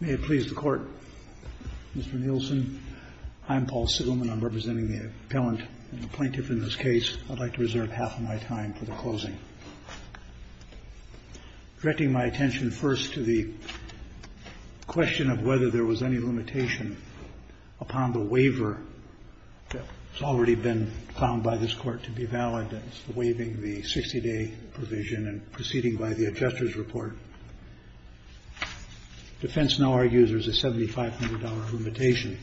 May it please the Court, Mr. Nielsen, I'm Paul Sigelman, I'm representing the appellant and the plaintiff in this case. I'd like to reserve half of my time for the closing. Directing my attention first to the question of whether there was any limitation upon the waiver that has already been found by this Court to be valid, that's the waiving the 60-day provision and proceeding by the adjuster's report. Defense now argues there's a $7,500 limitation.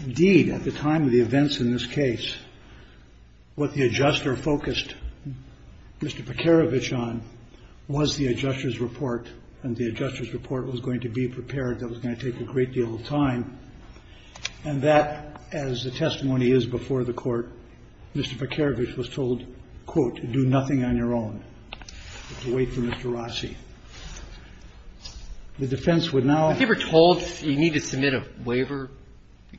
Indeed, at the time of the events in this case, what the adjuster focused Mr. PECAROVICH on was the adjuster's report and the adjuster's report was going to be prepared, that was going to take a great deal of time, and that, as the testimony is before the Court, Mr. PECAROVICH was told, quote, do nothing on your own. Wait for Mr. Rossi. The defense would now ---- If you were told you need to submit a waiver,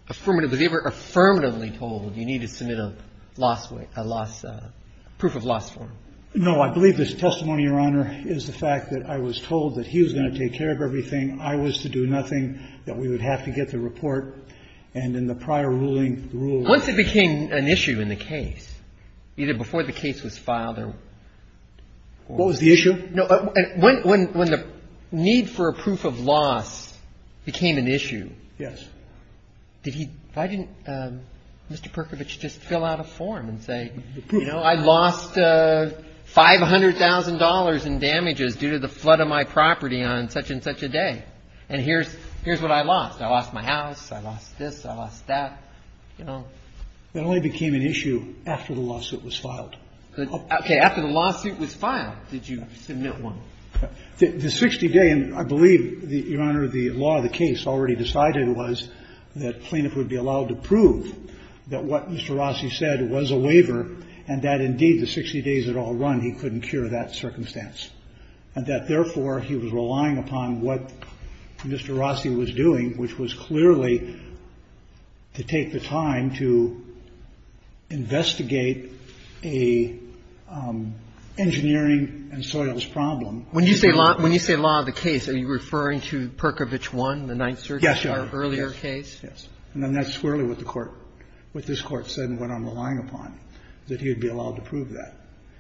affirmatively, if you were affirmatively told you need to submit a loss, a loss, a proof of loss form. No. I believe this testimony, Your Honor, is the fact that I was told that he was going to take care of everything. I was to do nothing, that we would have to get the report, and in the prior ruling Once it became an issue in the case, either before the case was filed or ---- What was the issue? No. When the need for a proof of loss became an issue, did he ---- why didn't Mr. PECAROVICH just fill out a form and say, you know, I lost $500,000 in damages due to the flood of my property on such-and-such a day, and here's what I lost. I lost my house. I lost this. I lost that. You know? It only became an issue after the lawsuit was filed. Okay. After the lawsuit was filed, did you submit one? The 60-day, and I believe, Your Honor, the law of the case already decided was that plaintiff would be allowed to prove that what Mr. Rossi said was a waiver and that, indeed, the 60 days had all run, he couldn't cure that circumstance, and that, therefore, he was relying upon what Mr. Rossi was doing, which was clearly to take the time to investigate a engineering and soils problem. When you say law of the case, are you referring to PECAROVICH 1, the Ninth Circuit's earlier case? Yes, Your Honor. Yes. And then that's clearly what the Court ---- what this Court said and what I'm relying upon, that he would be allowed to prove that.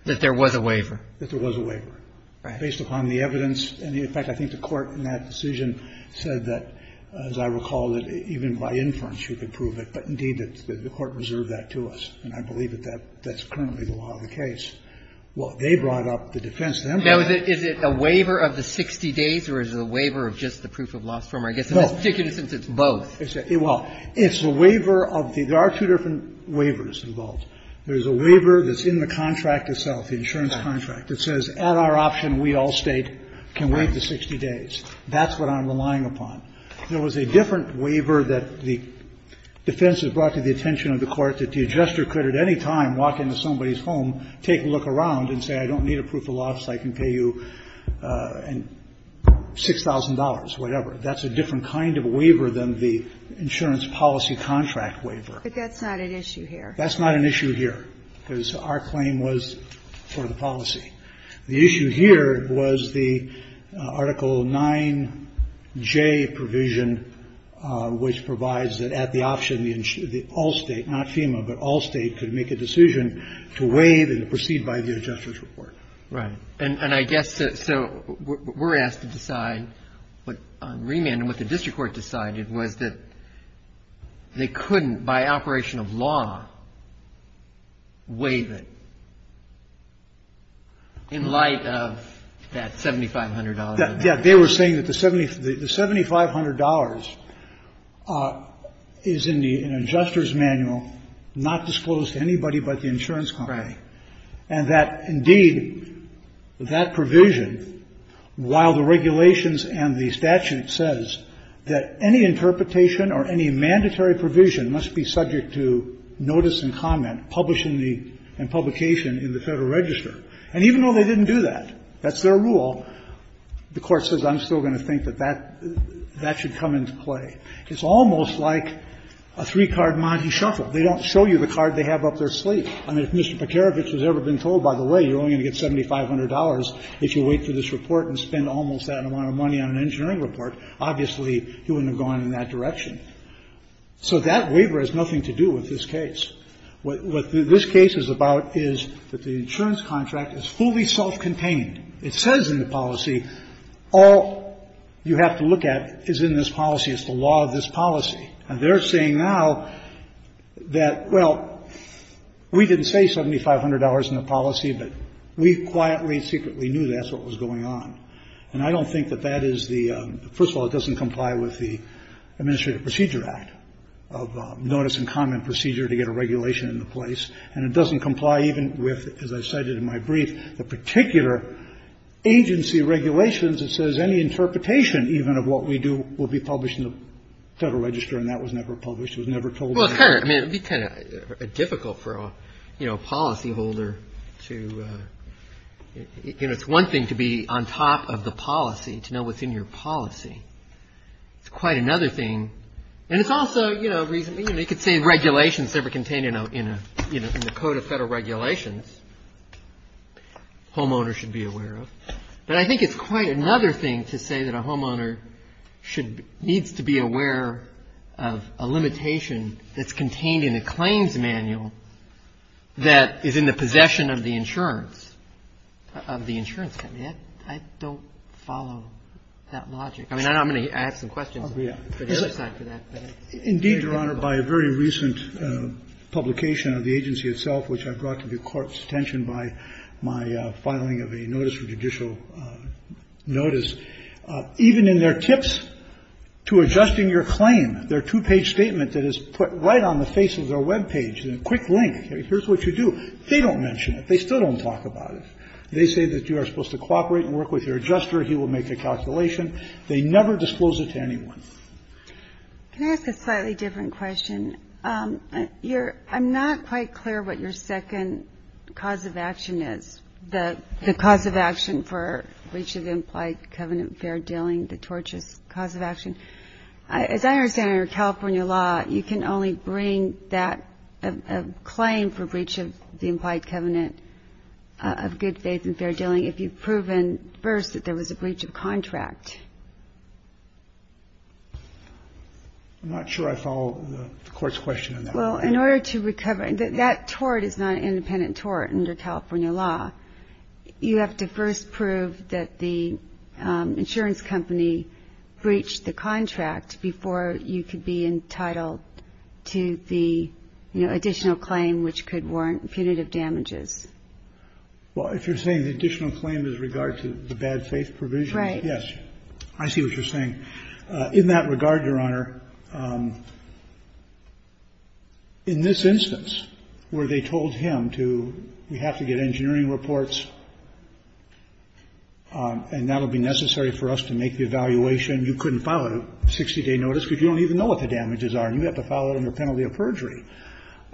That there was a waiver. That there was a waiver. Right. Based upon the evidence. In fact, I think the Court in that decision said that, as I recall, that even by inference you could prove it. But, indeed, the Court reserved that to us. And I believe that that's currently the law of the case. Well, they brought up the defense. Now, is it a waiver of the 60 days or is it a waiver of just the proof of loss form? I guess in this particular instance, it's both. Well, it's a waiver of the ---- there are two different waivers involved. There's a waiver that's in the contract itself, the insurance contract, that says at our option we all state can wait the 60 days. That's what I'm relying upon. There was a different waiver that the defense has brought to the attention of the Court that the adjuster could at any time walk into somebody's home, take a look around and say I don't need a proof of loss, I can pay you $6,000, whatever. That's a different kind of waiver than the insurance policy contract waiver. But that's not an issue here. That's not an issue here, because our claim was for the policy. The issue here was the Article 9J provision, which provides that at the option the all state, not FEMA, but all state could make a decision to waive and proceed by the adjuster's report. Right. And I guess so we're asked to decide what on remand and what the district court decided was that they couldn't by operation of law waive it. In light of that $7,500? Yeah. They were saying that the $7,500 is in the adjuster's manual, not disclosed to anybody but the insurance company. Right. And that, indeed, that provision, while the regulations and the statute says that any interpretation or any mandatory provision must be subject to notice and comment, publish and publication in the Federal Register. And even though they didn't do that, that's their rule, the Court says I'm still going to think that that should come into play. It's almost like a three-card Monte Shuffle. They don't show you the card they have up their sleeve. I mean, if Mr. Peterewicz has ever been told, by the way, you're only going to get $7,500 if you wait for this report and spend almost that amount of money on an engineering report, obviously he wouldn't have gone in that direction. So that waiver has nothing to do with this case. What this case is about is that the insurance contract is fully self-contained. It says in the policy all you have to look at is in this policy, is the law of this policy. And they're saying now that, well, we didn't say $7,500 in the policy, but we quietly and secretly knew that's what was going on. And I don't think that that is the – first of all, it doesn't comply with the Administrative Procedure Act of notice and comment procedure to get a regulation into place. And it doesn't comply even with, as I cited in my brief, the particular agency regulations that says any interpretation even of what we do will be published in the Federal Register. And that was never published. It was never told. Well, it's kind of – I mean, it would be kind of difficult for, you know, a policy holder to – you know, it's one thing to be on top of the policy, to know what's in your policy. It's quite another thing. And it's also, you know, reasonably – you know, you could say regulation is never contained in a – you know, in the Code of Federal Regulations. Homeowners should be aware of. But I think it's quite another thing to say that a homeowner should – needs to be aware of a limitation that's contained in a claims manual that is in the possession of the insurance – of the insurance company. I don't follow that logic. I mean, I know I'm going to ask some questions, but it's not for that. Indeed, Your Honor, by a very recent publication of the agency itself, which I brought to the Court's attention by my filing of a notice for judicial notice, even in their tips to adjusting your claim, their two-page statement that is put right on the face of their webpage, a quick link. Here's what you do. They don't mention it. They still don't talk about it. They say that you are supposed to cooperate and work with your adjuster. He will make a calculation. They never disclose it to anyone. Can I ask a slightly different question? Your – I'm not quite clear what your second cause of action is, the cause of action for breach of the implied covenant of fair dealing, the tortious cause of action. As I understand it under California law, you can only bring that – a claim for breach of the implied covenant of good faith and fair dealing if you've proven first that there was a breach of contract. I'm not sure I follow the Court's question on that. Well, in order to recover – that tort is not an independent tort under California law. You have to first prove that the insurance company breached the contract before you could be entitled to the, you know, additional claim which could warrant punitive damages. Well, if you're saying the additional claim is in regard to the bad faith provision. Right. Yes. I see what you're saying. In that regard, Your Honor, in this instance where they told him to – we have to get engineering reports and that will be necessary for us to make the evaluation, you couldn't file a 60-day notice because you don't even know what the damages You have to file it under penalty of perjury.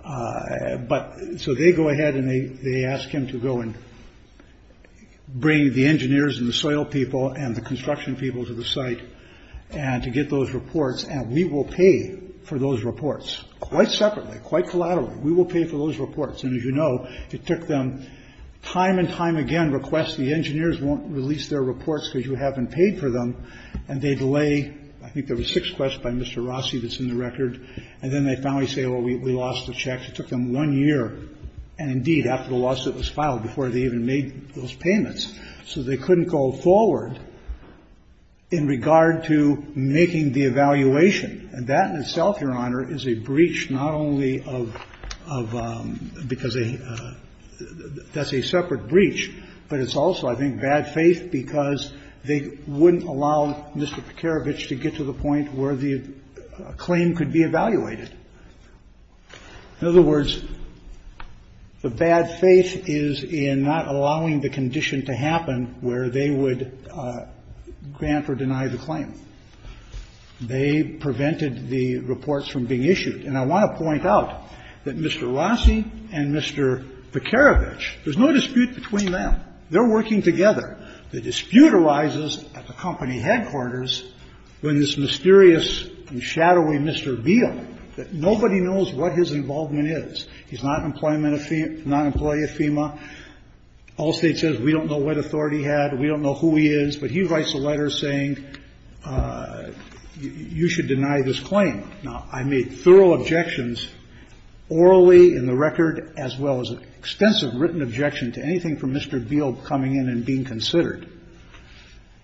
But – so they go ahead and they ask him to go and bring the engineers and the soil people and the construction people to the site and to get those reports and we will pay for those reports quite separately, quite collaterally. We will pay for those reports. And as you know, it took them time and time again, request the engineers won't release their reports because you haven't paid for them. And they delay – I think there were six requests by Mr. Rossi that's in the record And then they finally say, well, we lost the checks. It took them one year. And indeed, after the lawsuit was filed, before they even made those payments. So they couldn't go forward in regard to making the evaluation. And that in itself, Your Honor, is a breach not only of – because that's a separate breach, but it's also, I think, bad faith because they wouldn't allow Mr. Prokarevich to get to the point where the claim could be evaluated. In other words, the bad faith is in not allowing the condition to happen where they would grant or deny the claim. They prevented the reports from being issued. And I want to point out that Mr. Rossi and Mr. Prokarevich, there's no dispute between them. They're working together. The dispute arises at the company headquarters when this mysterious and shadowy Mr. Beale, that nobody knows what his involvement is. He's not an employee of FEMA. Allstate says, we don't know what authority he had. We don't know who he is. But he writes a letter saying, you should deny this claim. Now, I made thorough objections orally in the record as well as extensive written objection to anything from Mr. Beale coming in and being considered.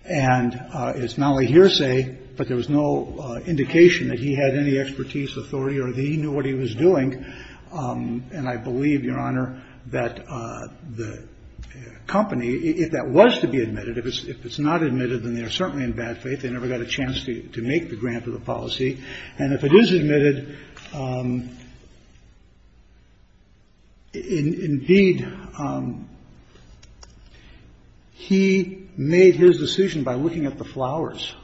And it's not a hearsay, but there was no indication that he had any expertise, authority, or that he knew what he was doing. And I believe, Your Honor, that the company, if that was to be admitted, if it's not admitted, then they are certainly in bad faith. They never got a chance to make the grant of the policy. And if it is admitted, indeed, he made his decision by looking at the flowers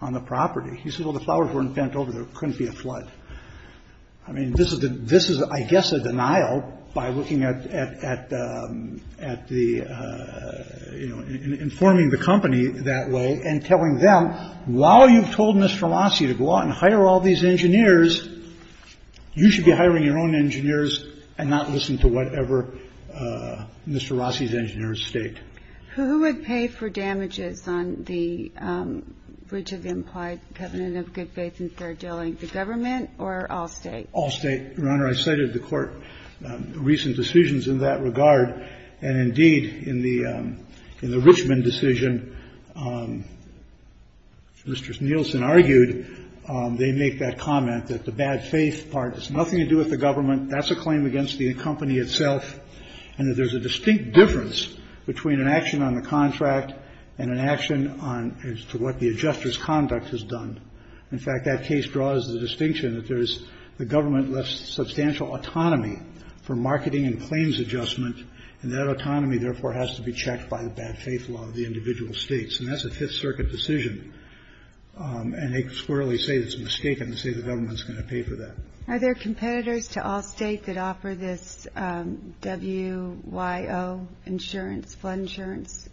on the property. He said, well, the flowers weren't bent over. There couldn't be a flood. I mean, this is the this is, I guess, a denial by looking at at at the, you know, informing the company that way and telling them, well, while you've told Mr. Rossi to go out and hire all these engineers, you should be hiring your own engineers and not listen to whatever Mr. Rossi's engineers state. Who would pay for damages on the bridge of implied covenant of good faith and fair dealing, the government or Allstate? Allstate, Your Honor. I cited the court recent decisions in that regard. And indeed, in the in the Richmond decision, Mr. Nielsen argued they make that comment that the bad faith part has nothing to do with the government. That's a claim against the company itself. And that there's a distinct difference between an action on the contract and an action on what the adjuster's conduct has done. In fact, that case draws the distinction that there is the government left substantial autonomy for marketing and claims adjustment. And that autonomy, therefore, has to be checked by the bad faith law of the individual states. And that's a Fifth Circuit decision. And they squarely say it's mistaken to say the government's going to pay for that. Are there competitors to Allstate that offer this W.Y.O. insurance, flood insurance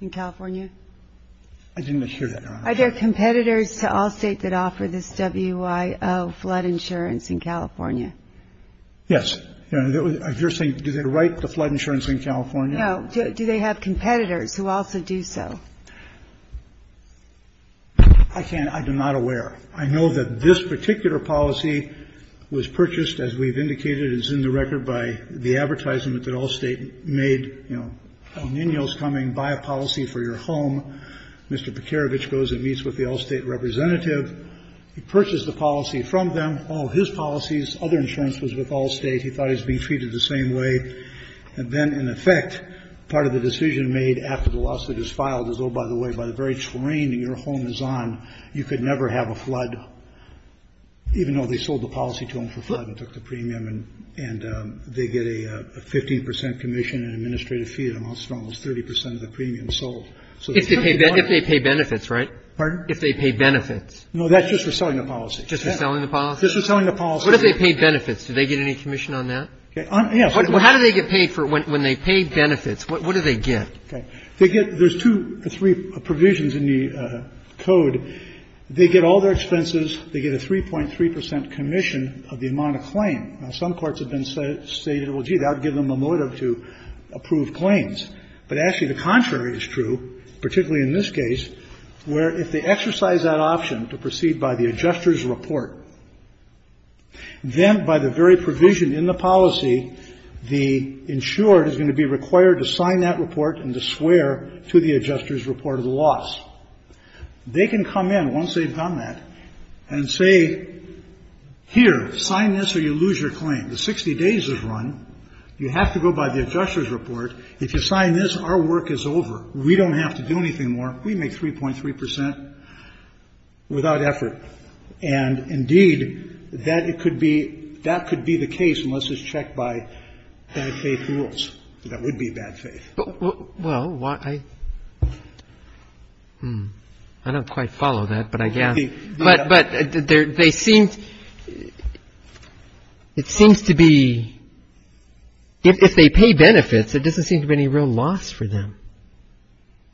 in California? I didn't hear that. Are there competitors to Allstate that offer this W.Y.O. flood insurance in California? Yes. I'm just saying, do they write the flood insurance in California? No. Do they have competitors who also do so? I can't. I'm not aware. I know that this particular policy was purchased, as we've indicated, as in the record, by the advertisement that Allstate made. You know, El Nino's coming. Buy a policy for your home. Mr. Prokarevich goes and meets with the Allstate representative. He purchased the policy from them. Oh, his policy's other insurance was with Allstate. He thought he was being treated the same way. And then, in effect, part of the decision made after the lawsuit is filed is, oh, by the way, by the very terrain that your home is on, you could never have a flood, even though they sold the policy to them for flood and took the premium. And they get a 15 percent commission and administrative fee. It amounts to almost 30 percent of the premium sold. If they pay benefits, right? Pardon? If they pay benefits. No, that's just for selling the policy. Just for selling the policy? Just for selling the policy. What if they pay benefits? Do they get any commission on that? Yes. Well, how do they get paid for when they pay benefits? What do they get? Okay. They get the two or three provisions in the code. They get all their expenses. They get a 3.3 percent commission of the amount of claim. Now, some courts have been stating, well, gee, that would give them a motive to approve But actually, the contrary is true, particularly in this case, where if they exercise that option to proceed by the adjuster's report, then by the very provision in the policy, the insured is going to be required to sign that report and to swear to the adjuster's report of the loss. They can come in, once they've done that, and say, here, sign this or you lose your claim. The 60 days is run. You have to go by the adjuster's report. If you sign this, our work is over. We don't have to do anything more. We make 3.3 percent without effort. And, indeed, that could be the case unless it's checked by bad faith rules. That would be bad faith. Well, I don't quite follow that, but I guess. But they seem to be, if they pay benefits, it doesn't seem to be any real loss for them.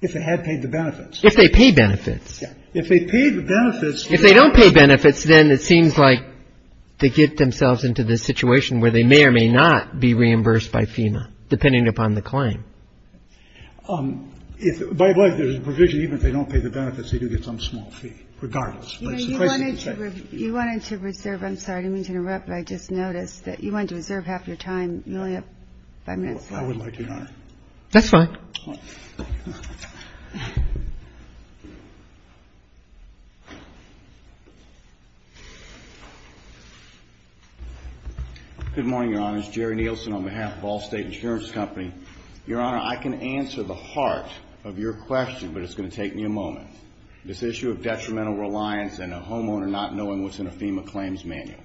If they had paid the benefits. If they pay benefits. Yeah. If they pay the benefits. If they don't pay benefits, then it seems like they get themselves into this situation where they may or may not be reimbursed by FEMA, depending upon the claim. By the way, there's a provision, even if they don't pay the benefits, they do get some small fee, regardless. You wanted to reserve. I'm sorry. I didn't mean to interrupt, but I just noticed that you wanted to reserve half your time. You only have five minutes. I would like to not. That's fine. Good morning, Your Honor. It's Jerry Nielsen on behalf of Ball State Insurance Company. Your Honor, I can answer the heart of your question, but it's going to take me a moment. This issue of detrimental reliance and a homeowner not knowing what's in a FEMA claims manual.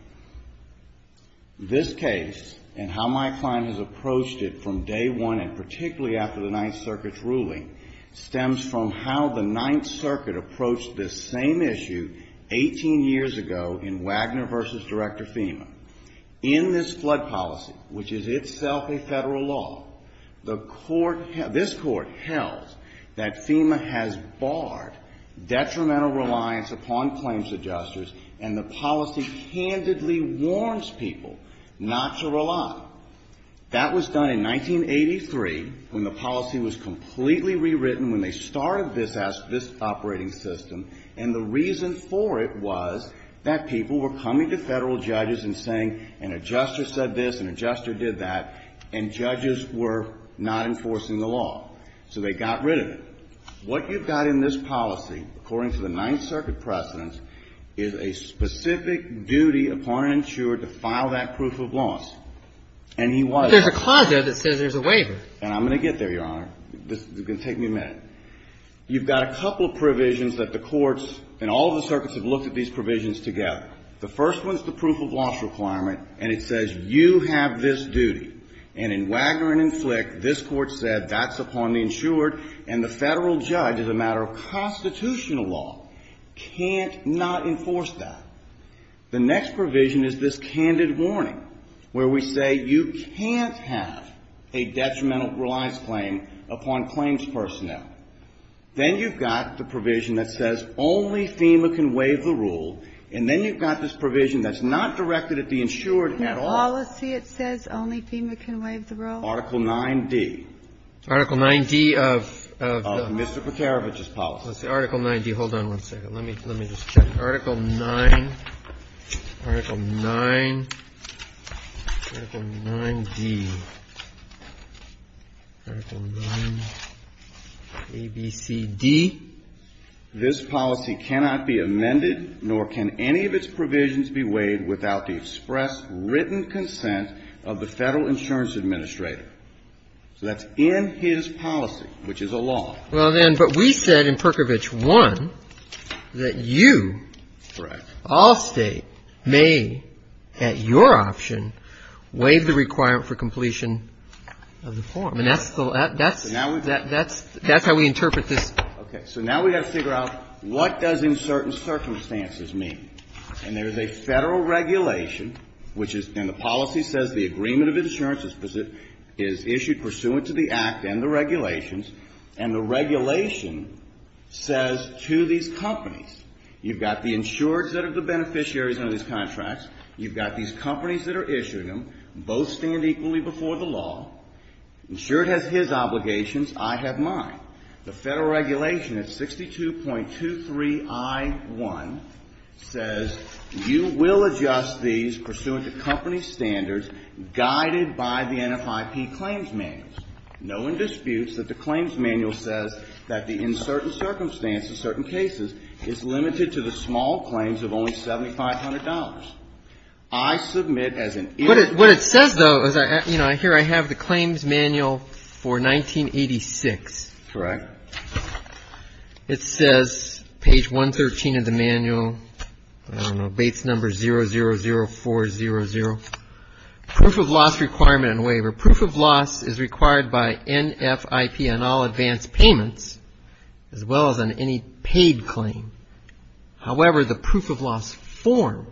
This case and how my client has approached it from day one, and particularly after the Ninth Circuit's ruling, stems from how the Ninth Circuit approached this same issue 18 years ago in Wagner v. Director FEMA. In this flood policy, which is itself a Federal law, this Court held that FEMA has barred detrimental reliance upon claims adjusters, and the policy candidly warns people not to rely. That was done in 1983, when the policy was completely rewritten, when they started this operating system, and the reason for it was that people were coming to Federal judges and saying, an adjuster said this, an adjuster did that, and judges were not enforcing the law. So they got rid of it. What you've got in this policy, according to the Ninth Circuit precedents, is a specific duty upon an insured to file that proof of loss. And he was. But there's a clause there that says there's a waiver. And I'm going to get there, Your Honor. This is going to take me a minute. You've got a couple of provisions that the courts and all of the circuits have looked at these provisions together. The first one is the proof of loss requirement, and it says you have this duty. And in Wagner and Flick, this Court said that's upon the insured, and the Federal judge, as a matter of constitutional law, can't not enforce that. The next provision is this candid warning, where we say you can't have a detrimental reliance claim upon claims personnel. Then you've got the provision that says only FEMA can waive the rule, and then you've got this provision that's not directed at the insured at all. The policy, it says, only FEMA can waive the rule. Article 9d. Article 9d of the. Of Mr. Bukharovich's policy. Article 9d. Hold on one second. Let me just check. Article 9. Article 9. Article 9d. Article 9, ABCD. This policy cannot be amended, nor can any of its provisions be waived without the express written consent of the Federal insurance administrator. So that's in his policy, which is a law. Well, then, but we said in Perkovich 1 that you. Correct. All State may, at your option, waive the requirement for completion of the form. And that's how we interpret this. Okay. So now we've got to figure out what does in certain circumstances mean. And there is a Federal regulation, which is, and the policy says the agreement of insurance is issued pursuant to the Act and the regulations, and the regulation says to these companies, you've got the insureds that are the beneficiaries under these contracts, you've got these companies that are issuing them, both stand equally before the law. Insured has his obligations. I have mine. The Federal regulation at 62.23i1 says you will adjust these pursuant to company standards guided by the NFIP claims manuals, knowing disputes that the claims manual says that the in certain circumstances, certain cases, is limited to the small claims of only $7,500. I submit as an interest. What it says, though, here I have the claims manual for 1986. Correct. It says, page 113 of the manual, I don't know, base number 000400, proof of loss requirement and waiver. Proof of loss is required by NFIP on all advance payments as well as on any paid claim. However, the proof of loss form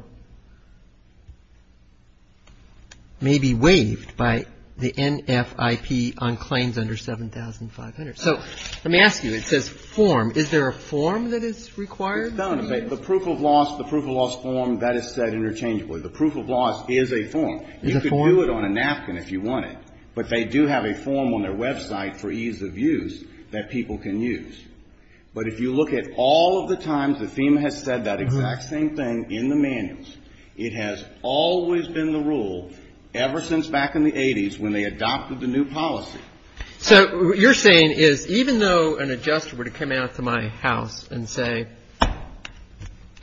may be waived by the NFIP on claims under $7,500. So let me ask you. It says form. Is there a form that is required? No. The proof of loss, the proof of loss form, that is said interchangeably. The proof of loss is a form. Is it a form? You can do it on a napkin if you want it. But they do have a form on their website for ease of use that people can use. But if you look at all of the times that FEMA has said that exact same thing in the manuals, it has always been the rule ever since back in the 80s when they adopted the new policy. So what you're saying is even though an adjuster were to come out to my house and say,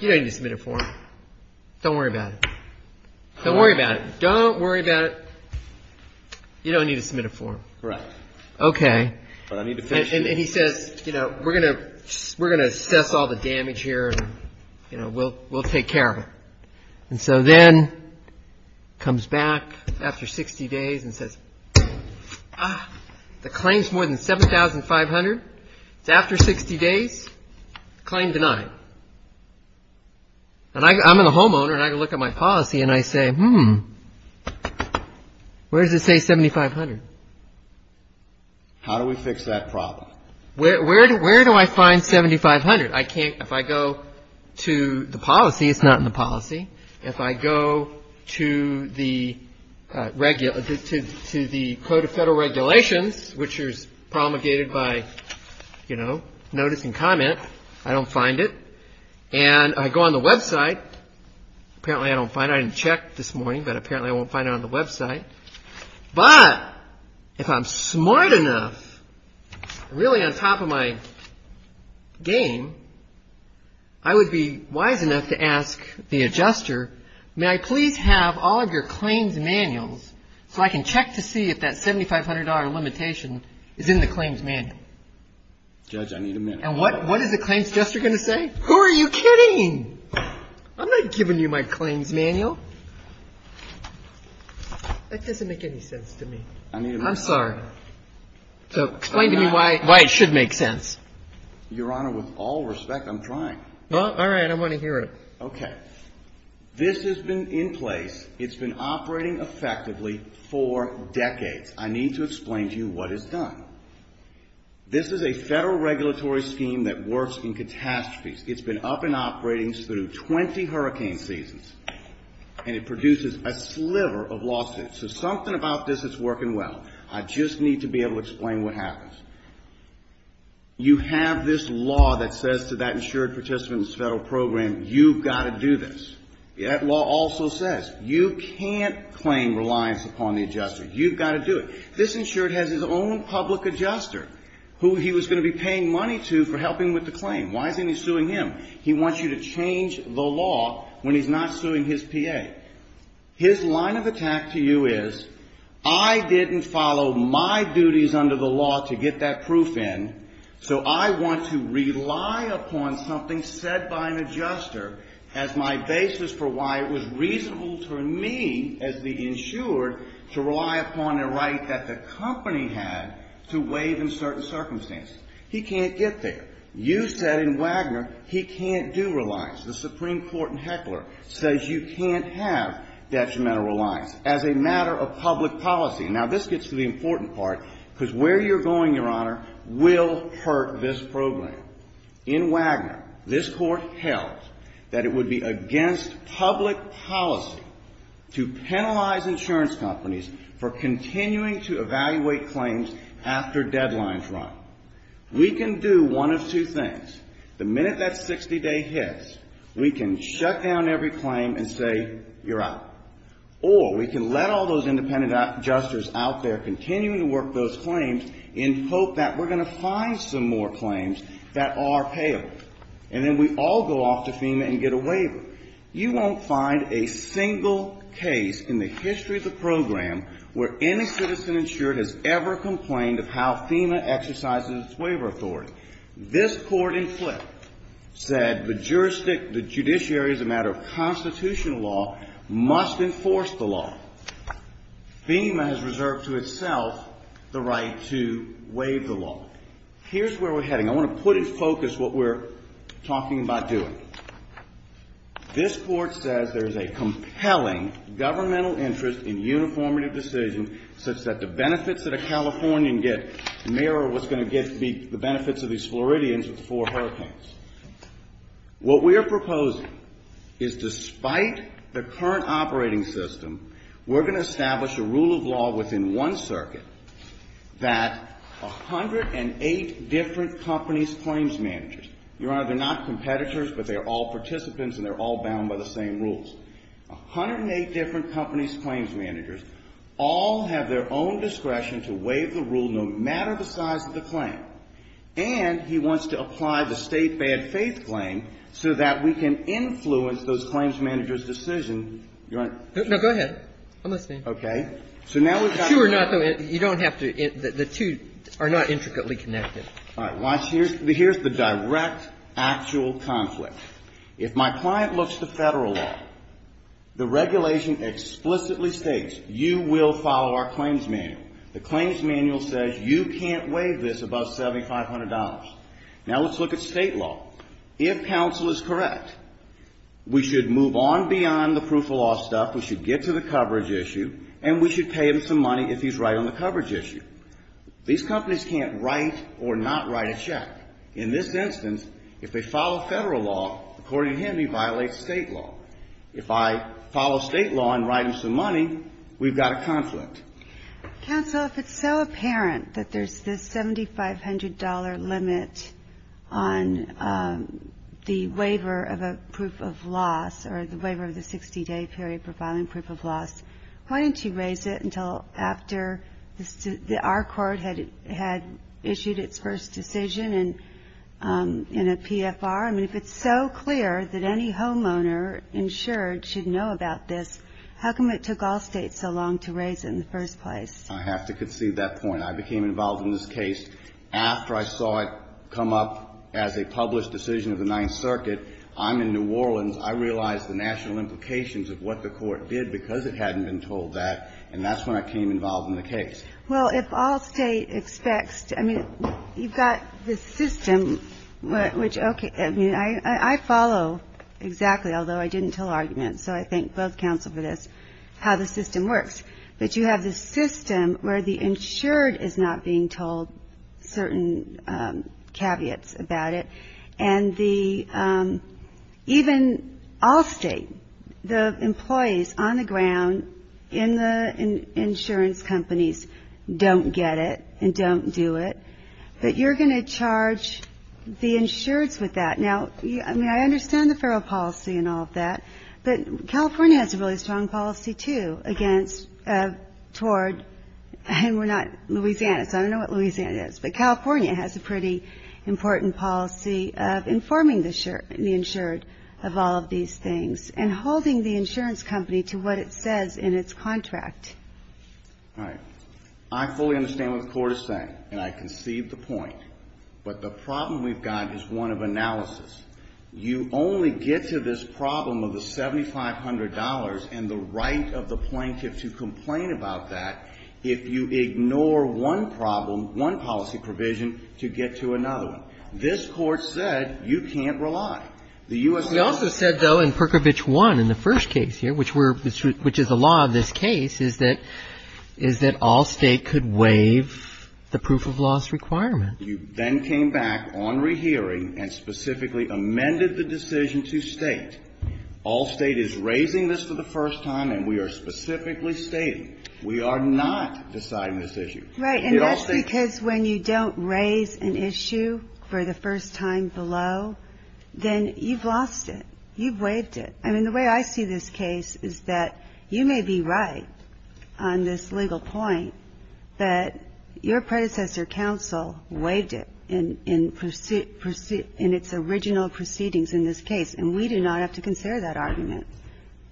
you don't need to submit a form. Don't worry about it. Don't worry about it. Don't worry about it. You don't need to submit a form. Correct. Okay. And he says, you know, we're going to assess all the damage here and, you know, we'll take care of it. And so then comes back after 60 days and says, ah, the claim is more than $7,500. It's after 60 days, claim denied. And I'm a homeowner and I look at my policy and I say, hmm, where does it say $7,500? How do we fix that problem? Where do I find $7,500? I can't. If I go to the policy, it's not in the policy. If I go to the Code of Federal Regulations, which is promulgated by, you know, notice and comment, I don't find it. And I go on the website. Apparently I don't find it. I didn't check this morning, but apparently I won't find it on the website. But if I'm smart enough, really on top of my game, I would be wise enough to ask the adjuster, may I please have all of your claims manuals so I can check to see if that $7,500 limitation is in the claims manual? Judge, I need a minute. And what is the claims adjuster going to say? Who are you kidding? I'm not giving you my claims manual. That doesn't make any sense to me. I need a minute. I'm sorry. Explain to me why it should make sense. Your Honor, with all respect, I'm trying. All right. I want to hear it. Okay. This has been in place. It's been operating effectively for decades. I need to explain to you what is done. This is a federal regulatory scheme that works in catastrophes. It's been up and operating through 20 hurricane seasons. And it produces a sliver of lawsuits. So something about this is working well. I just need to be able to explain what happens. You have this law that says to that insured participant in this federal program, you've got to do this. That law also says you can't claim reliance upon the adjuster. You've got to do it. This insured has his own public adjuster who he was going to be paying money to for helping with the claim. Why isn't he suing him? He wants you to change the law when he's not suing his PA. His line of attack to you is, I didn't follow my duties under the law to get that proof in, so I want to rely upon something said by an adjuster as my basis for why it was reasonable to me as the insured to rely upon a right that the company had to waive in certain circumstances. He can't get there. You said in Wagner he can't do reliance. The Supreme Court in Heckler says you can't have detrimental reliance as a matter of public policy. Now, this gets to the important part, because where you're going, Your Honor, will hurt this program. In Wagner, this Court held that it would be against public policy to penalize insurance companies for continuing to evaluate claims after deadlines run. We can do one of two things. The minute that 60-day hits, we can shut down every claim and say you're out, or we can let all those independent adjusters out there continuing to work those claims in hope that we're going to find some more claims that are payable, and then we all go off to FEMA and get a waiver. You won't find a single case in the history of the program where any citizen insured has ever complained of how FEMA exercises its waiver authority. This Court, in flip, said the judiciary as a matter of constitutional law must enforce the law. FEMA has reserved to itself the right to waive the law. Here's where we're heading. I want to put in focus what we're talking about doing. This Court says there's a compelling governmental interest in uniformity of decision such that the benefits that a Californian can get may or was going to get be the benefits of these Floridians with four hurricanes. What we are proposing is despite the current operating system, we're going to establish a rule of law within one circuit that 108 different companies' claims managers, Your Honor, they're not competitors, but they're all participants and they're all bound by the same rules. 108 different companies' claims managers all have their own discretion to waive the rule no matter the size of the claim. And he wants to apply the state bad faith claim so that we can influence those claims managers' decision. Your Honor. No, go ahead. I'm listening. Okay. So now we've got to go. The two are not. You don't have to. The two are not intricately connected. All right. Here's the direct, actual conflict. If my client looks to federal law, the regulation explicitly states you will follow our claims manual. The claims manual says you can't waive this above $7,500. Now let's look at state law. If counsel is correct, we should move on beyond the proof of law stuff. We should get to the coverage issue and we should pay him some money if he's right on the coverage issue. These companies can't write or not write a check. In this instance, if they follow federal law, according to him, he violates state law. If I follow state law and write him some money, we've got a conflict. Counsel, if it's so apparent that there's this $7,500 limit on the waiver of a proof of loss or the waiver of the 60-day period for filing proof of loss, why didn't you raise it until after our court had issued its first decision in a PFR? I mean, if it's so clear that any homeowner insured should know about this, how come it took all states so long to raise it in the first place? I have to concede that point. I became involved in this case after I saw it come up as a published decision of the Ninth Circuit. I'm in New Orleans. I realized the national implications of what the court did because it hadn't been told that, and that's when I came involved in the case. Well, if all state expects to – I mean, you've got the system, which – okay. I mean, I follow exactly, although I didn't tell arguments, so I thank both counsel for this, how the system works. But you have this system where the insured is not being told certain caveats about it, and the – even all state, the employees on the ground in the insurance companies don't get it and don't do it. But you're going to charge the insureds with that. Now, I mean, I understand the federal policy and all of that, but California has a really strong policy, too, against – toward – and we're not – Louisiana, I don't know what Louisiana is, but California has a pretty important policy of informing the insured of all of these things and holding the insurance company to what it says in its contract. All right. I fully understand what the court is saying, and I concede the point. But the problem we've got is one of analysis. You only get to this problem of the $7,500 and the right of the plaintiff to complain about that if you ignore one problem, one policy provision, to get to another one. This Court said you can't rely. The U.S. – We also said, though, in Perkovich 1, in the first case here, which we're – which is the law of this case, is that all state could waive the proof of loss requirement. You then came back on rehearing and specifically amended the decision to state. All state is raising this for the first time, and we are specifically stating we are not deciding this issue. Right. And that's because when you don't raise an issue for the first time below, then you've lost it. You've waived it. I mean, the way I see this case is that you may be right on this legal point, but your predecessor counsel waived it in its original proceedings in this case, and we do not have to consider that argument.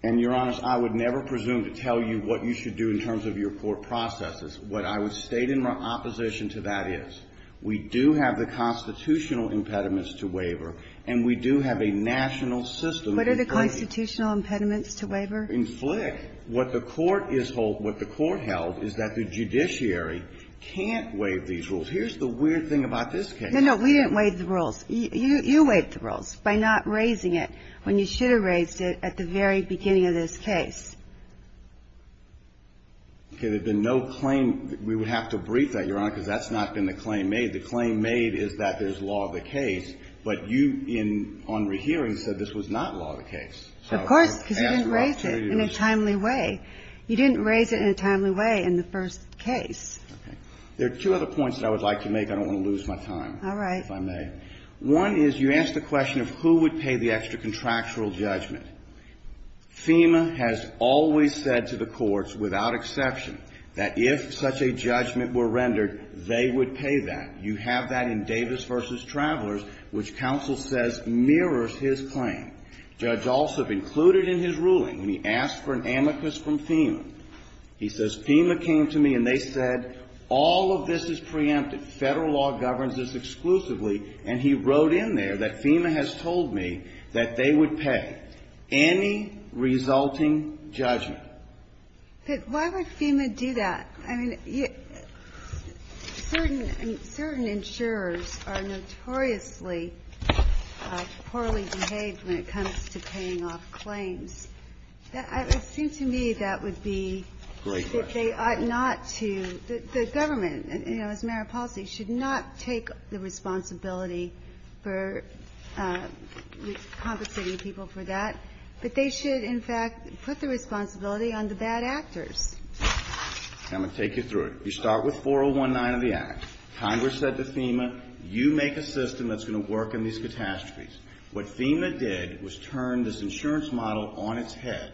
And, Your Honor, I would never presume to tell you what you should do in terms of your court processes. What I would state in opposition to that is we do have the constitutional impediments to waiver, and we do have a national system in place. What are the constitutional impediments to waiver? In Flick, what the court is – what the court held is that the judiciary can't waive these rules. Here's the weird thing about this case. We didn't waive the rules. You waived the rules by not raising it when you should have raised it at the very beginning of this case. Okay. There had been no claim. We would have to brief that, Your Honor, because that's not been the claim made. The claim made is that there's law of the case, but you, on rehearing, said this was not law of the case. Of course, because you didn't raise it in a timely way. You didn't raise it in a timely way in the first case. Okay. There are two other points that I would like to make. I don't want to lose my time. All right. If I may. One is you ask the question of who would pay the extra contractual judgment. FEMA has always said to the courts, without exception, that if such a judgment were rendered, they would pay that. You have that in Davis v. Travelers, which counsel says mirrors his claim. Judge Alsop included in his ruling, when he asked for an amicus from FEMA, he says FEMA came to me and they said all of this is preempted. Federal law governs this exclusively. And he wrote in there that FEMA has told me that they would pay any resulting judgment. But why would FEMA do that? I mean, certain insurers are notoriously poorly behaved when it comes to paying off claims. It would seem to me that would be they ought not to. Great question. The government, you know, as a matter of policy, should not take the responsibility for compensating people for that. But they should, in fact, put the responsibility on the bad actors. I'm going to take you through it. You start with 4019 of the Act. Congress said to FEMA, you make a system that's going to work in these catastrophes. What FEMA did was turn this insurance model on its head.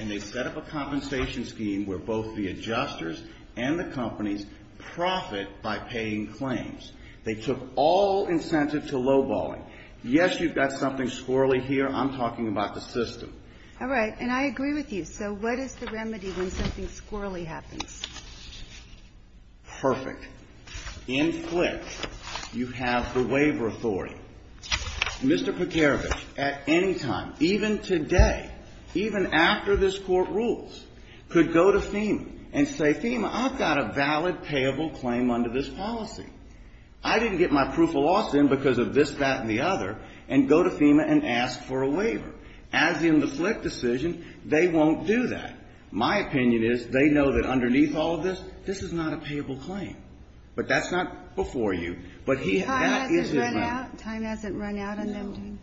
And they set up a compensation scheme where both the adjusters and the companies profit by paying claims. They took all incentive to lowballing. Yes, you've got something squirrelly here. I'm talking about the system. All right. And I agree with you. So what is the remedy when something squirrelly happens? Perfect. In Flint, you have the waiver authority. Mr. Pekarovich, at any time, even today, even after this Court rules, could go to FEMA and say, FEMA, I've got a valid payable claim under this policy. I didn't get my proof of loss in because of this, that, and the other, and go to FEMA and ask for a waiver. As in the Flint decision, they won't do that. My opinion is they know that underneath all of this, this is not a payable claim. But that's not before you. Time hasn't run out on them, Dean. No.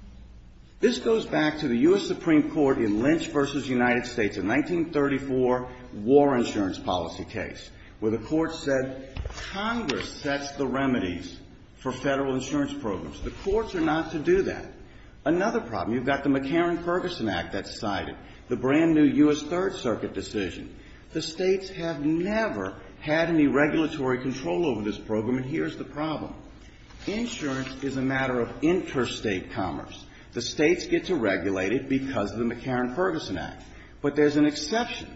This goes back to the U.S. Supreme Court in Lynch v. United States, a 1934 war insurance policy case, where the Court said Congress sets the remedies for federal insurance programs. The courts are not to do that. Another problem, you've got the McCarran-Ferguson Act that's cited, the brand-new U.S. Third Circuit decision. The states have never had any regulatory control over this program, and here's the problem. Insurance is a matter of interstate commerce. The states get to regulate it because of the McCarran-Ferguson Act. But there's an exception.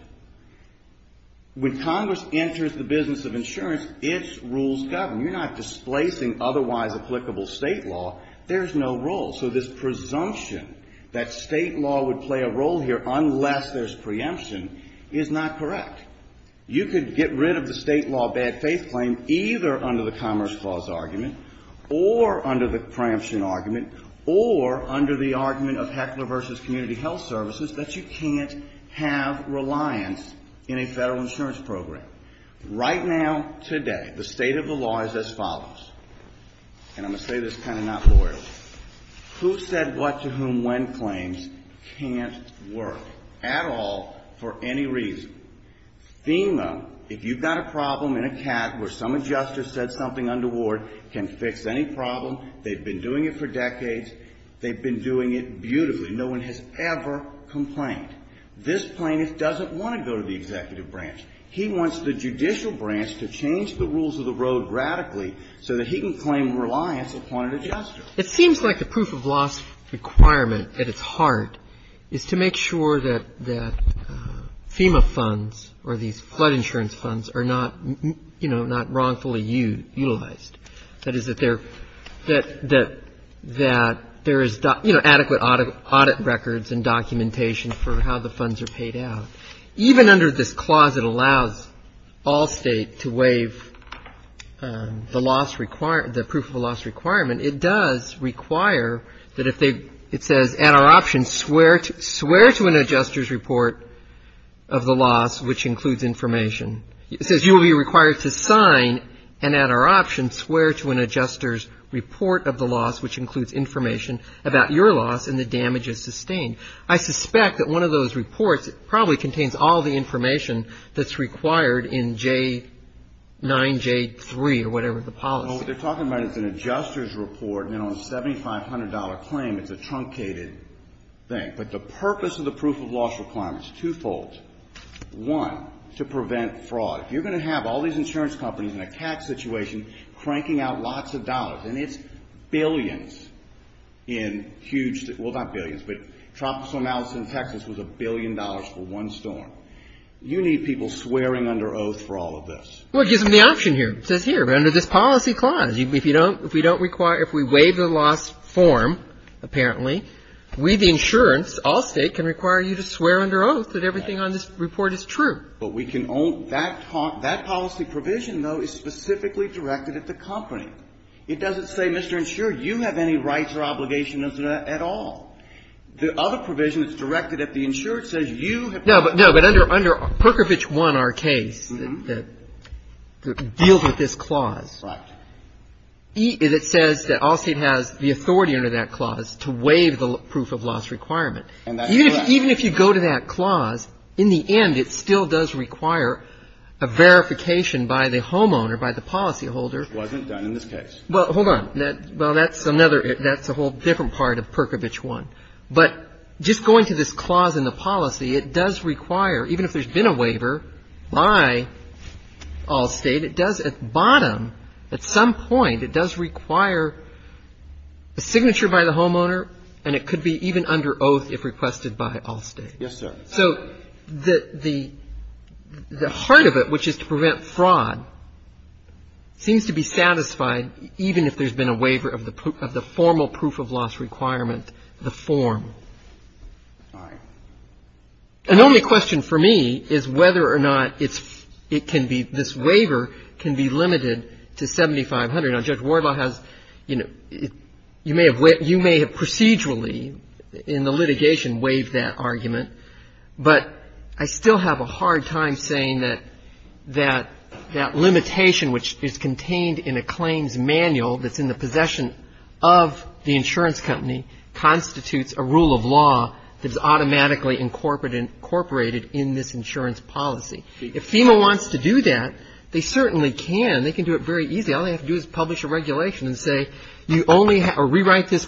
When Congress enters the business of insurance, its rules govern. You're not displacing otherwise applicable state law. There's no rule. So this presumption that state law would play a role here unless there's preemption is not correct. You could get rid of the state law bad faith claim either under the Commerce Clause argument or under the preemption argument or under the argument of Heckler v. Community Health Services that you can't have reliance in a federal insurance program. Right now, today, the state of the law is as follows, and I'm going to say this kind of not loyally. Who said what to whom when claims can't work at all for any reason. FEMA, if you've got a problem in a cat where some adjuster said something under ward can fix any problem. They've been doing it for decades. They've been doing it beautifully. No one has ever complained. This plaintiff doesn't want to go to the executive branch. He wants the judicial branch to change the rules of the road radically so that he can claim reliance upon an adjuster. It seems like the proof of loss requirement at its heart is to make sure that FEMA funds or these flood insurance funds are not, you know, not wrongfully utilized. That is, that there is, you know, adequate audit records and documentation for how the funds are paid out. Even under this clause, it allows all states to waive the loss, the proof of loss requirement. It does require that if they, it says, add our option, swear to an adjuster's report of the loss, which includes information. It says you will be required to sign and add our option, swear to an adjuster's report of the loss, which includes information about your loss and the damages sustained. I suspect that one of those reports probably contains all the information that's required in J9, J3 or whatever the policy. Well, what they're talking about is an adjuster's report, you know, a $7,500 claim. It's a truncated thing. But the purpose of the proof of loss requirement is twofold. One, to prevent fraud. If you're going to have all these insurance companies in a tax situation cranking out lots of dollars, and it's billions in huge, well, not billions, but Tropical Storm Allison in Texas was a billion dollars for one storm. You need people swearing under oath for all of this. Well, it gives them the option here. It says here, under this policy clause, if you don't, if we don't require, if we waive the loss form, apparently, we, the insurance, all state, can require you to swear under oath that everything on this report is true. But we can only, that policy provision, though, is specifically directed at the company. It doesn't say, Mr. Insurer, you have any rights or obligations at all. The other provision is directed at the insurer. It says you have to swear. No, but under Perkovich 1, our case, that deals with this clause. Right. It says that all state has the authority under that clause to waive the proof of loss requirement. And that's correct. Even if you go to that clause, in the end, it still does require a verification by the homeowner, by the policyholder. It wasn't done in this case. Well, hold on. Well, that's another, that's a whole different part of Perkovich 1. But just going to this clause in the policy, it does require, even if there's been a waiver by all state, it does at bottom, at some point, it does require a signature by the homeowner, and it could be even under oath if requested by all state. Yes, sir. So the heart of it, which is to prevent fraud, seems to be satisfied, even if there's been a waiver of the formal proof of loss requirement, the form. All right. And the only question for me is whether or not it can be, this waiver can be limited to 7,500. Now, Judge Wardlaw has, you know, you may have procedurally, in the litigation, waived that argument, but I still have a hard time saying that that limitation, which is contained in a claims manual that's in the possession of the insurance company, constitutes a rule of law that's automatically incorporated in this insurance policy. If FEMA wants to do that, they certainly can. They can do it very easily. All they have to do is publish a regulation and say, you only have, or rewrite this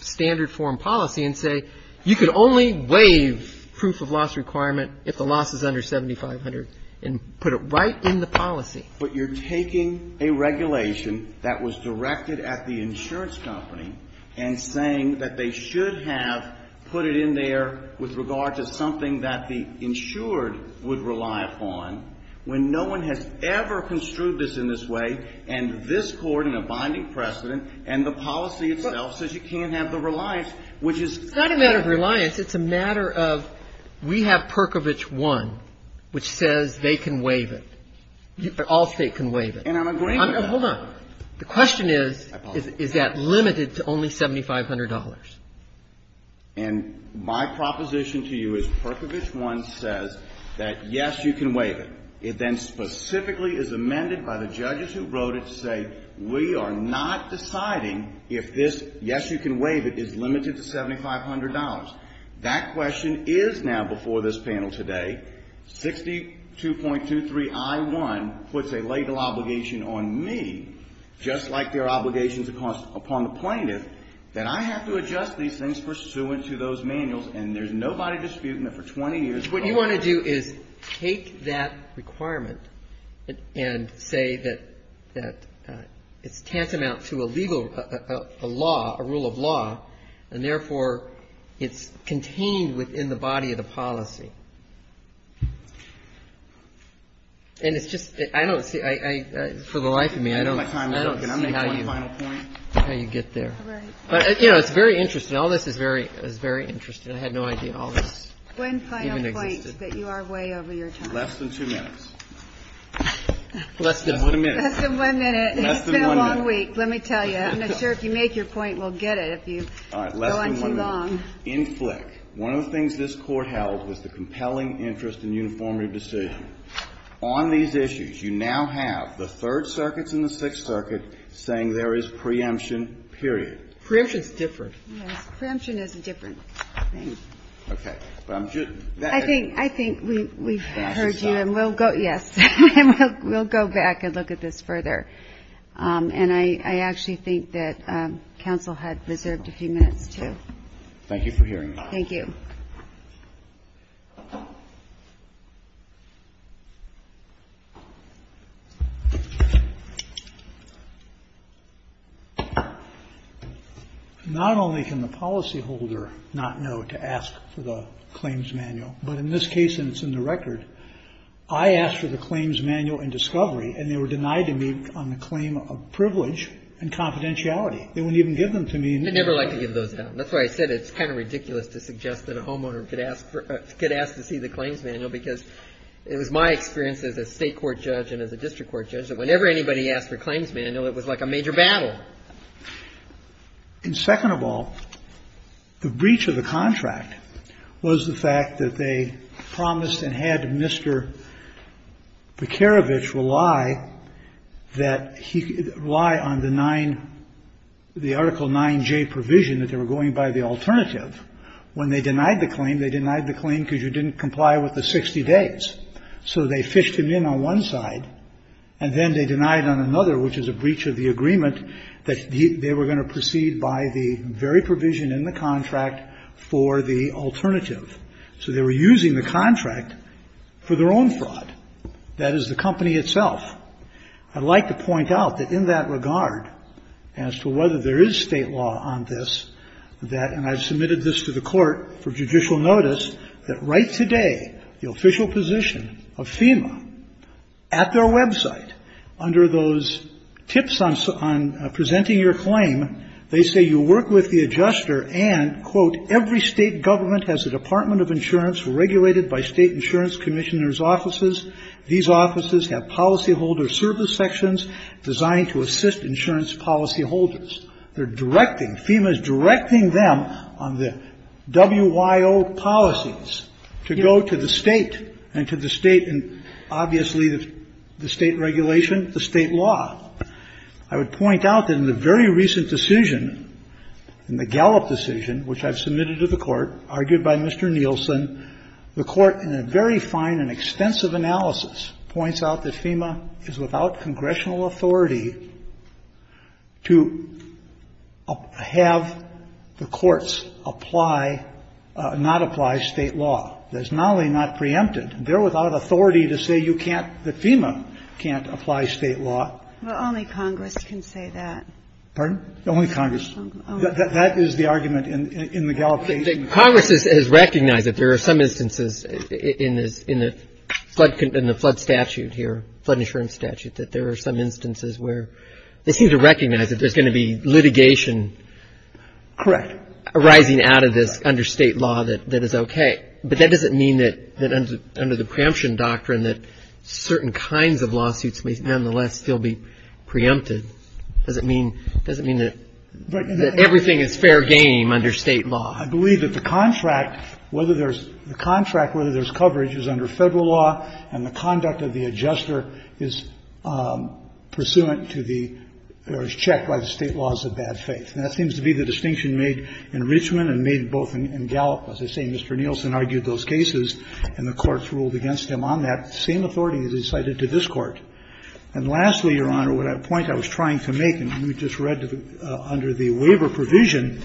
standard form policy and say, you can only waive proof of loss requirement if the loss is under 7,500, and put it right in the policy. But you're taking a regulation that was directed at the insurance company and saying that they should have put it in there with regard to something that the insured would rely upon, when no one has ever construed this in this way, and this Court has put in a binding precedent, and the policy itself says you can't have the reliance, which is kind of the case. It's not a matter of reliance. It's a matter of, we have Perkovich 1, which says they can waive it. All State can waive it. And I'm agreeing with that. Hold on. The question is, is that limited to only $7,500? And my proposition to you is Perkovich 1 says that, yes, you can waive it. It then specifically is amended by the judges who wrote it to say, we are not deciding if this, yes, you can waive it, is limited to $7,500. That question is now before this panel today, 62.23i1 puts a legal obligation on me, just like there are obligations upon the plaintiff, that I have to adjust these things pursuant to those manuals, and there's nobody disputing that for 20 years What you want to do is take that requirement and say that it's tantamount to a legal law, a rule of law, and therefore it's contained within the body of the policy. And it's just, I don't see, for the life of me, I don't see how you get there. But, you know, it's very interesting. All this is very interesting. And I had no idea all this even existed. One final point that you are way over your time. Less than 2 minutes. Less than 1 minute. Less than 1 minute. Less than 1 minute. Less than 1 minute. It's been a long week, let me tell you. I'm not sure if you make your point, we'll get it if you go on too long. All right. Less than 1 minute. In Flick, one of the things this Court held was the compelling interest in uniform redistribution. On these issues, you now have the Third Circuit and the Sixth Circuit saying there is preemption, period. Preemption is different. Yes. Okay. I think we've heard you and we'll go, yes, we'll go back and look at this further. And I actually think that counsel had reserved a few minutes, too. Thank you for hearing me. Thank you. Not only can the policyholder not know to ask for the claims manual, but in this case, and it's in the record, I asked for the claims manual and discovery, and they were denied to me on the claim of privilege and confidentiality. They wouldn't even give them to me. They never like to give those down. And that's why I said it's kind of ridiculous to suggest that a homeowner could ask to see the claims manual, because it was my experience as a State court judge and as a district court judge that whenever anybody asked for claims manual, it was like a major battle. And second of all, the breach of the contract was the fact that they promised and had Mr. Bekerewitsch rely that he rely on the nine, the article 9J provision that they were going by the alternative. When they denied the claim, they denied the claim because you didn't comply with the 60 days. So they fished him in on one side and then they denied on another, which is a breach of the agreement, that they were going to proceed by the very provision in the contract for the alternative. So they were using the contract for their own fraud. That is the company itself. I'd like to point out that in that regard, as to whether there is State law on this, that, and I submitted this to the court for judicial notice, that right today, the official position of FEMA at their website, under those tips on presenting your claim, they say you work with the adjuster and, quote, every State government has a department of insurance regulated by State insurance commissioner's offices. These offices have policyholder service sections designed to assist insurance policyholders. They're directing, FEMA is directing them on the WYO policies to go to the State and to the State and, obviously, the State regulation, the State law. I would point out that in the very recent decision, in the Gallup decision, which I've submitted to the court, argued by Mr. Nielsen, the court, in a very fine and extensive analysis, points out that FEMA is without congressional authority to have the courts apply or not apply State law. That is not only not preempted, they're without authority to say you can't, that FEMA can't apply State law. But only Congress can say that. Pardon? Only Congress. That is the argument in the Gallup case. Congress has recognized that there are some instances in the flood statute here, flood insurance statute, that there are some instances where they seem to recognize that there's going to be litigation arising out of this under State law that is okay. But that doesn't mean that under the preemption doctrine that certain kinds of lawsuits may nonetheless still be preempted. Does it mean, does it mean that everything is fair game under State law? I believe that the contract, whether there's, the contract, whether there's coverage is under Federal law, and the conduct of the adjuster is pursuant to the, or is checked by the State laws of bad faith. And that seems to be the distinction made in Richmond and made both in Gallup. As I say, Mr. Nielsen argued those cases, and the courts ruled against him on that. The same authority is cited to this Court. And lastly, Your Honor, the point I was trying to make, and we just read under the waiver provision,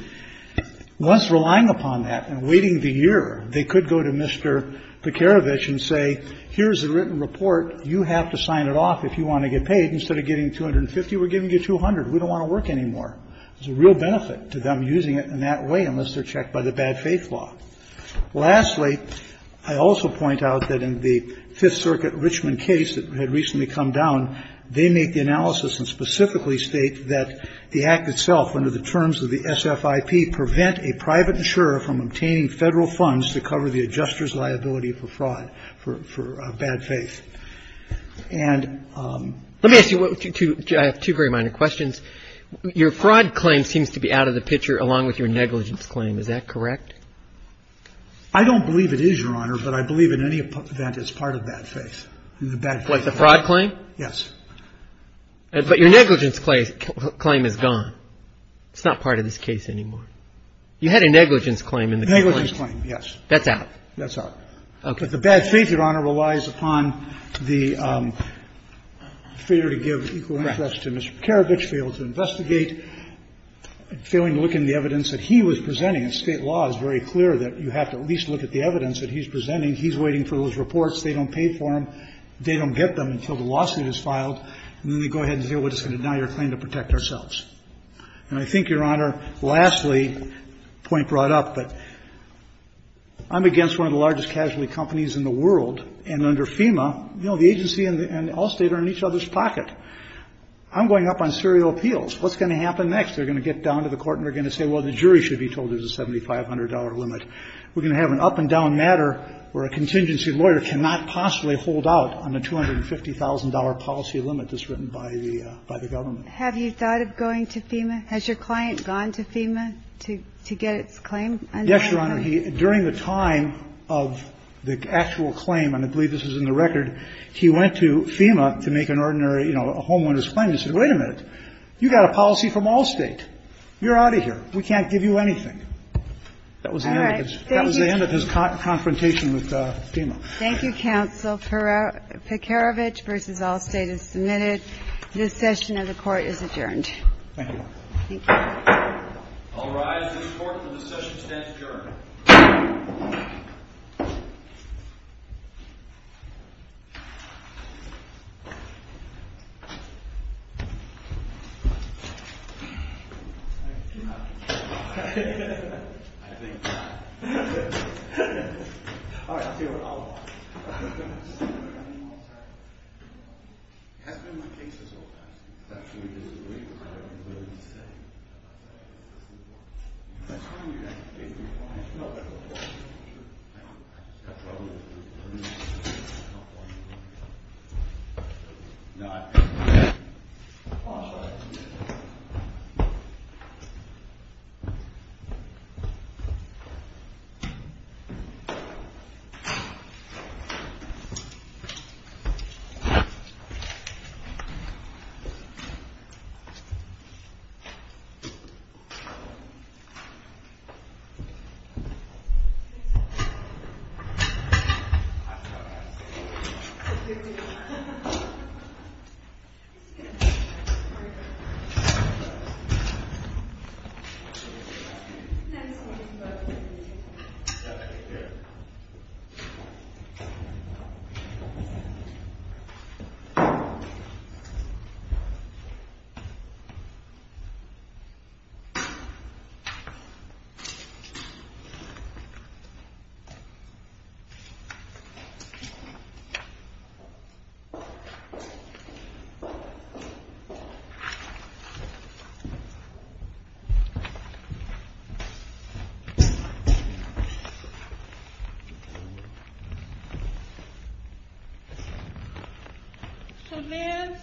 once relying upon that and waiting the year, they could go to Mr. Pikerevich and say, here's the written report, you have to sign it off if you want to get paid. Instead of getting 250, we're giving you 200. We don't want to work anymore. There's a real benefit to them using it in that way unless they're checked by the bad faith law. Lastly, I also point out that in the Fifth Circuit Richmond case that had recently come down, they make the analysis and specifically state that the Act itself, under the terms of the SFIP, prevent a private insurer from obtaining Federal funds to cover the adjuster's liability for fraud, for bad faith. And ---- Let me ask you two very minor questions. Your fraud claim seems to be out of the picture, along with your negligence claim. Is that correct? I don't believe it is, Your Honor, but I believe in any event it's part of bad faith. Like the fraud claim? Yes. But your negligence claim is gone. It's not part of this case anymore. You had a negligence claim in the complaint. Negligence claim, yes. That's out? That's out. Okay. But the bad faith, Your Honor, relies upon the failure to give equal interest to Mr. Pikerevich, failed to investigate, failing to look into the evidence that he was presenting. And State law is very clear that you have to at least look at the evidence that he's presenting. He's waiting for those reports. They don't pay for them. They don't get them until the lawsuit is filed. And then they go ahead and say, well, it's going to deny our claim to protect ourselves. And I think, Your Honor, lastly, point brought up, but I'm against one of the largest casualty companies in the world. And under FEMA, you know, the agency and all State are in each other's pocket. I'm going up on serial appeals. What's going to happen next? They're going to get down to the court and they're going to say, well, the jury should be told there's a $7,500 limit. We're going to have an up-and-down matter where a contingency lawyer cannot possibly hold out on the $250,000 policy limit that's written by the government. Have you thought of going to FEMA? Has your client gone to FEMA to get its claim? Yes, Your Honor. During the time of the actual claim, and I believe this is in the record, he went to FEMA to make an ordinary, you know, a homeowner's claim. He said, wait a minute. You got a policy from all State. You're out of here. We can't give you anything. That was the end of his confrontation with FEMA. Thank you, counsel. Pekarovich v. All State is submitted. This session of the Court is adjourned. Thank you. Thank you. All rise. This Court will discuss and extend adjournment. Thank you, Your Honor. I think not. All right. I'll walk. It hasn't been my case this whole time. It's actually a disagreement. I don't even know what he's saying. It's his. That's fine. Even if he's not my case, I've got a problem with his. I've got a problem with his. I've got a problem with his. I've got a problem with his. It's not my case. No, I've got a problem. All right. All right. Thank you. Thank you. Thank you. Thank you. Thank you. Come in. Thank you.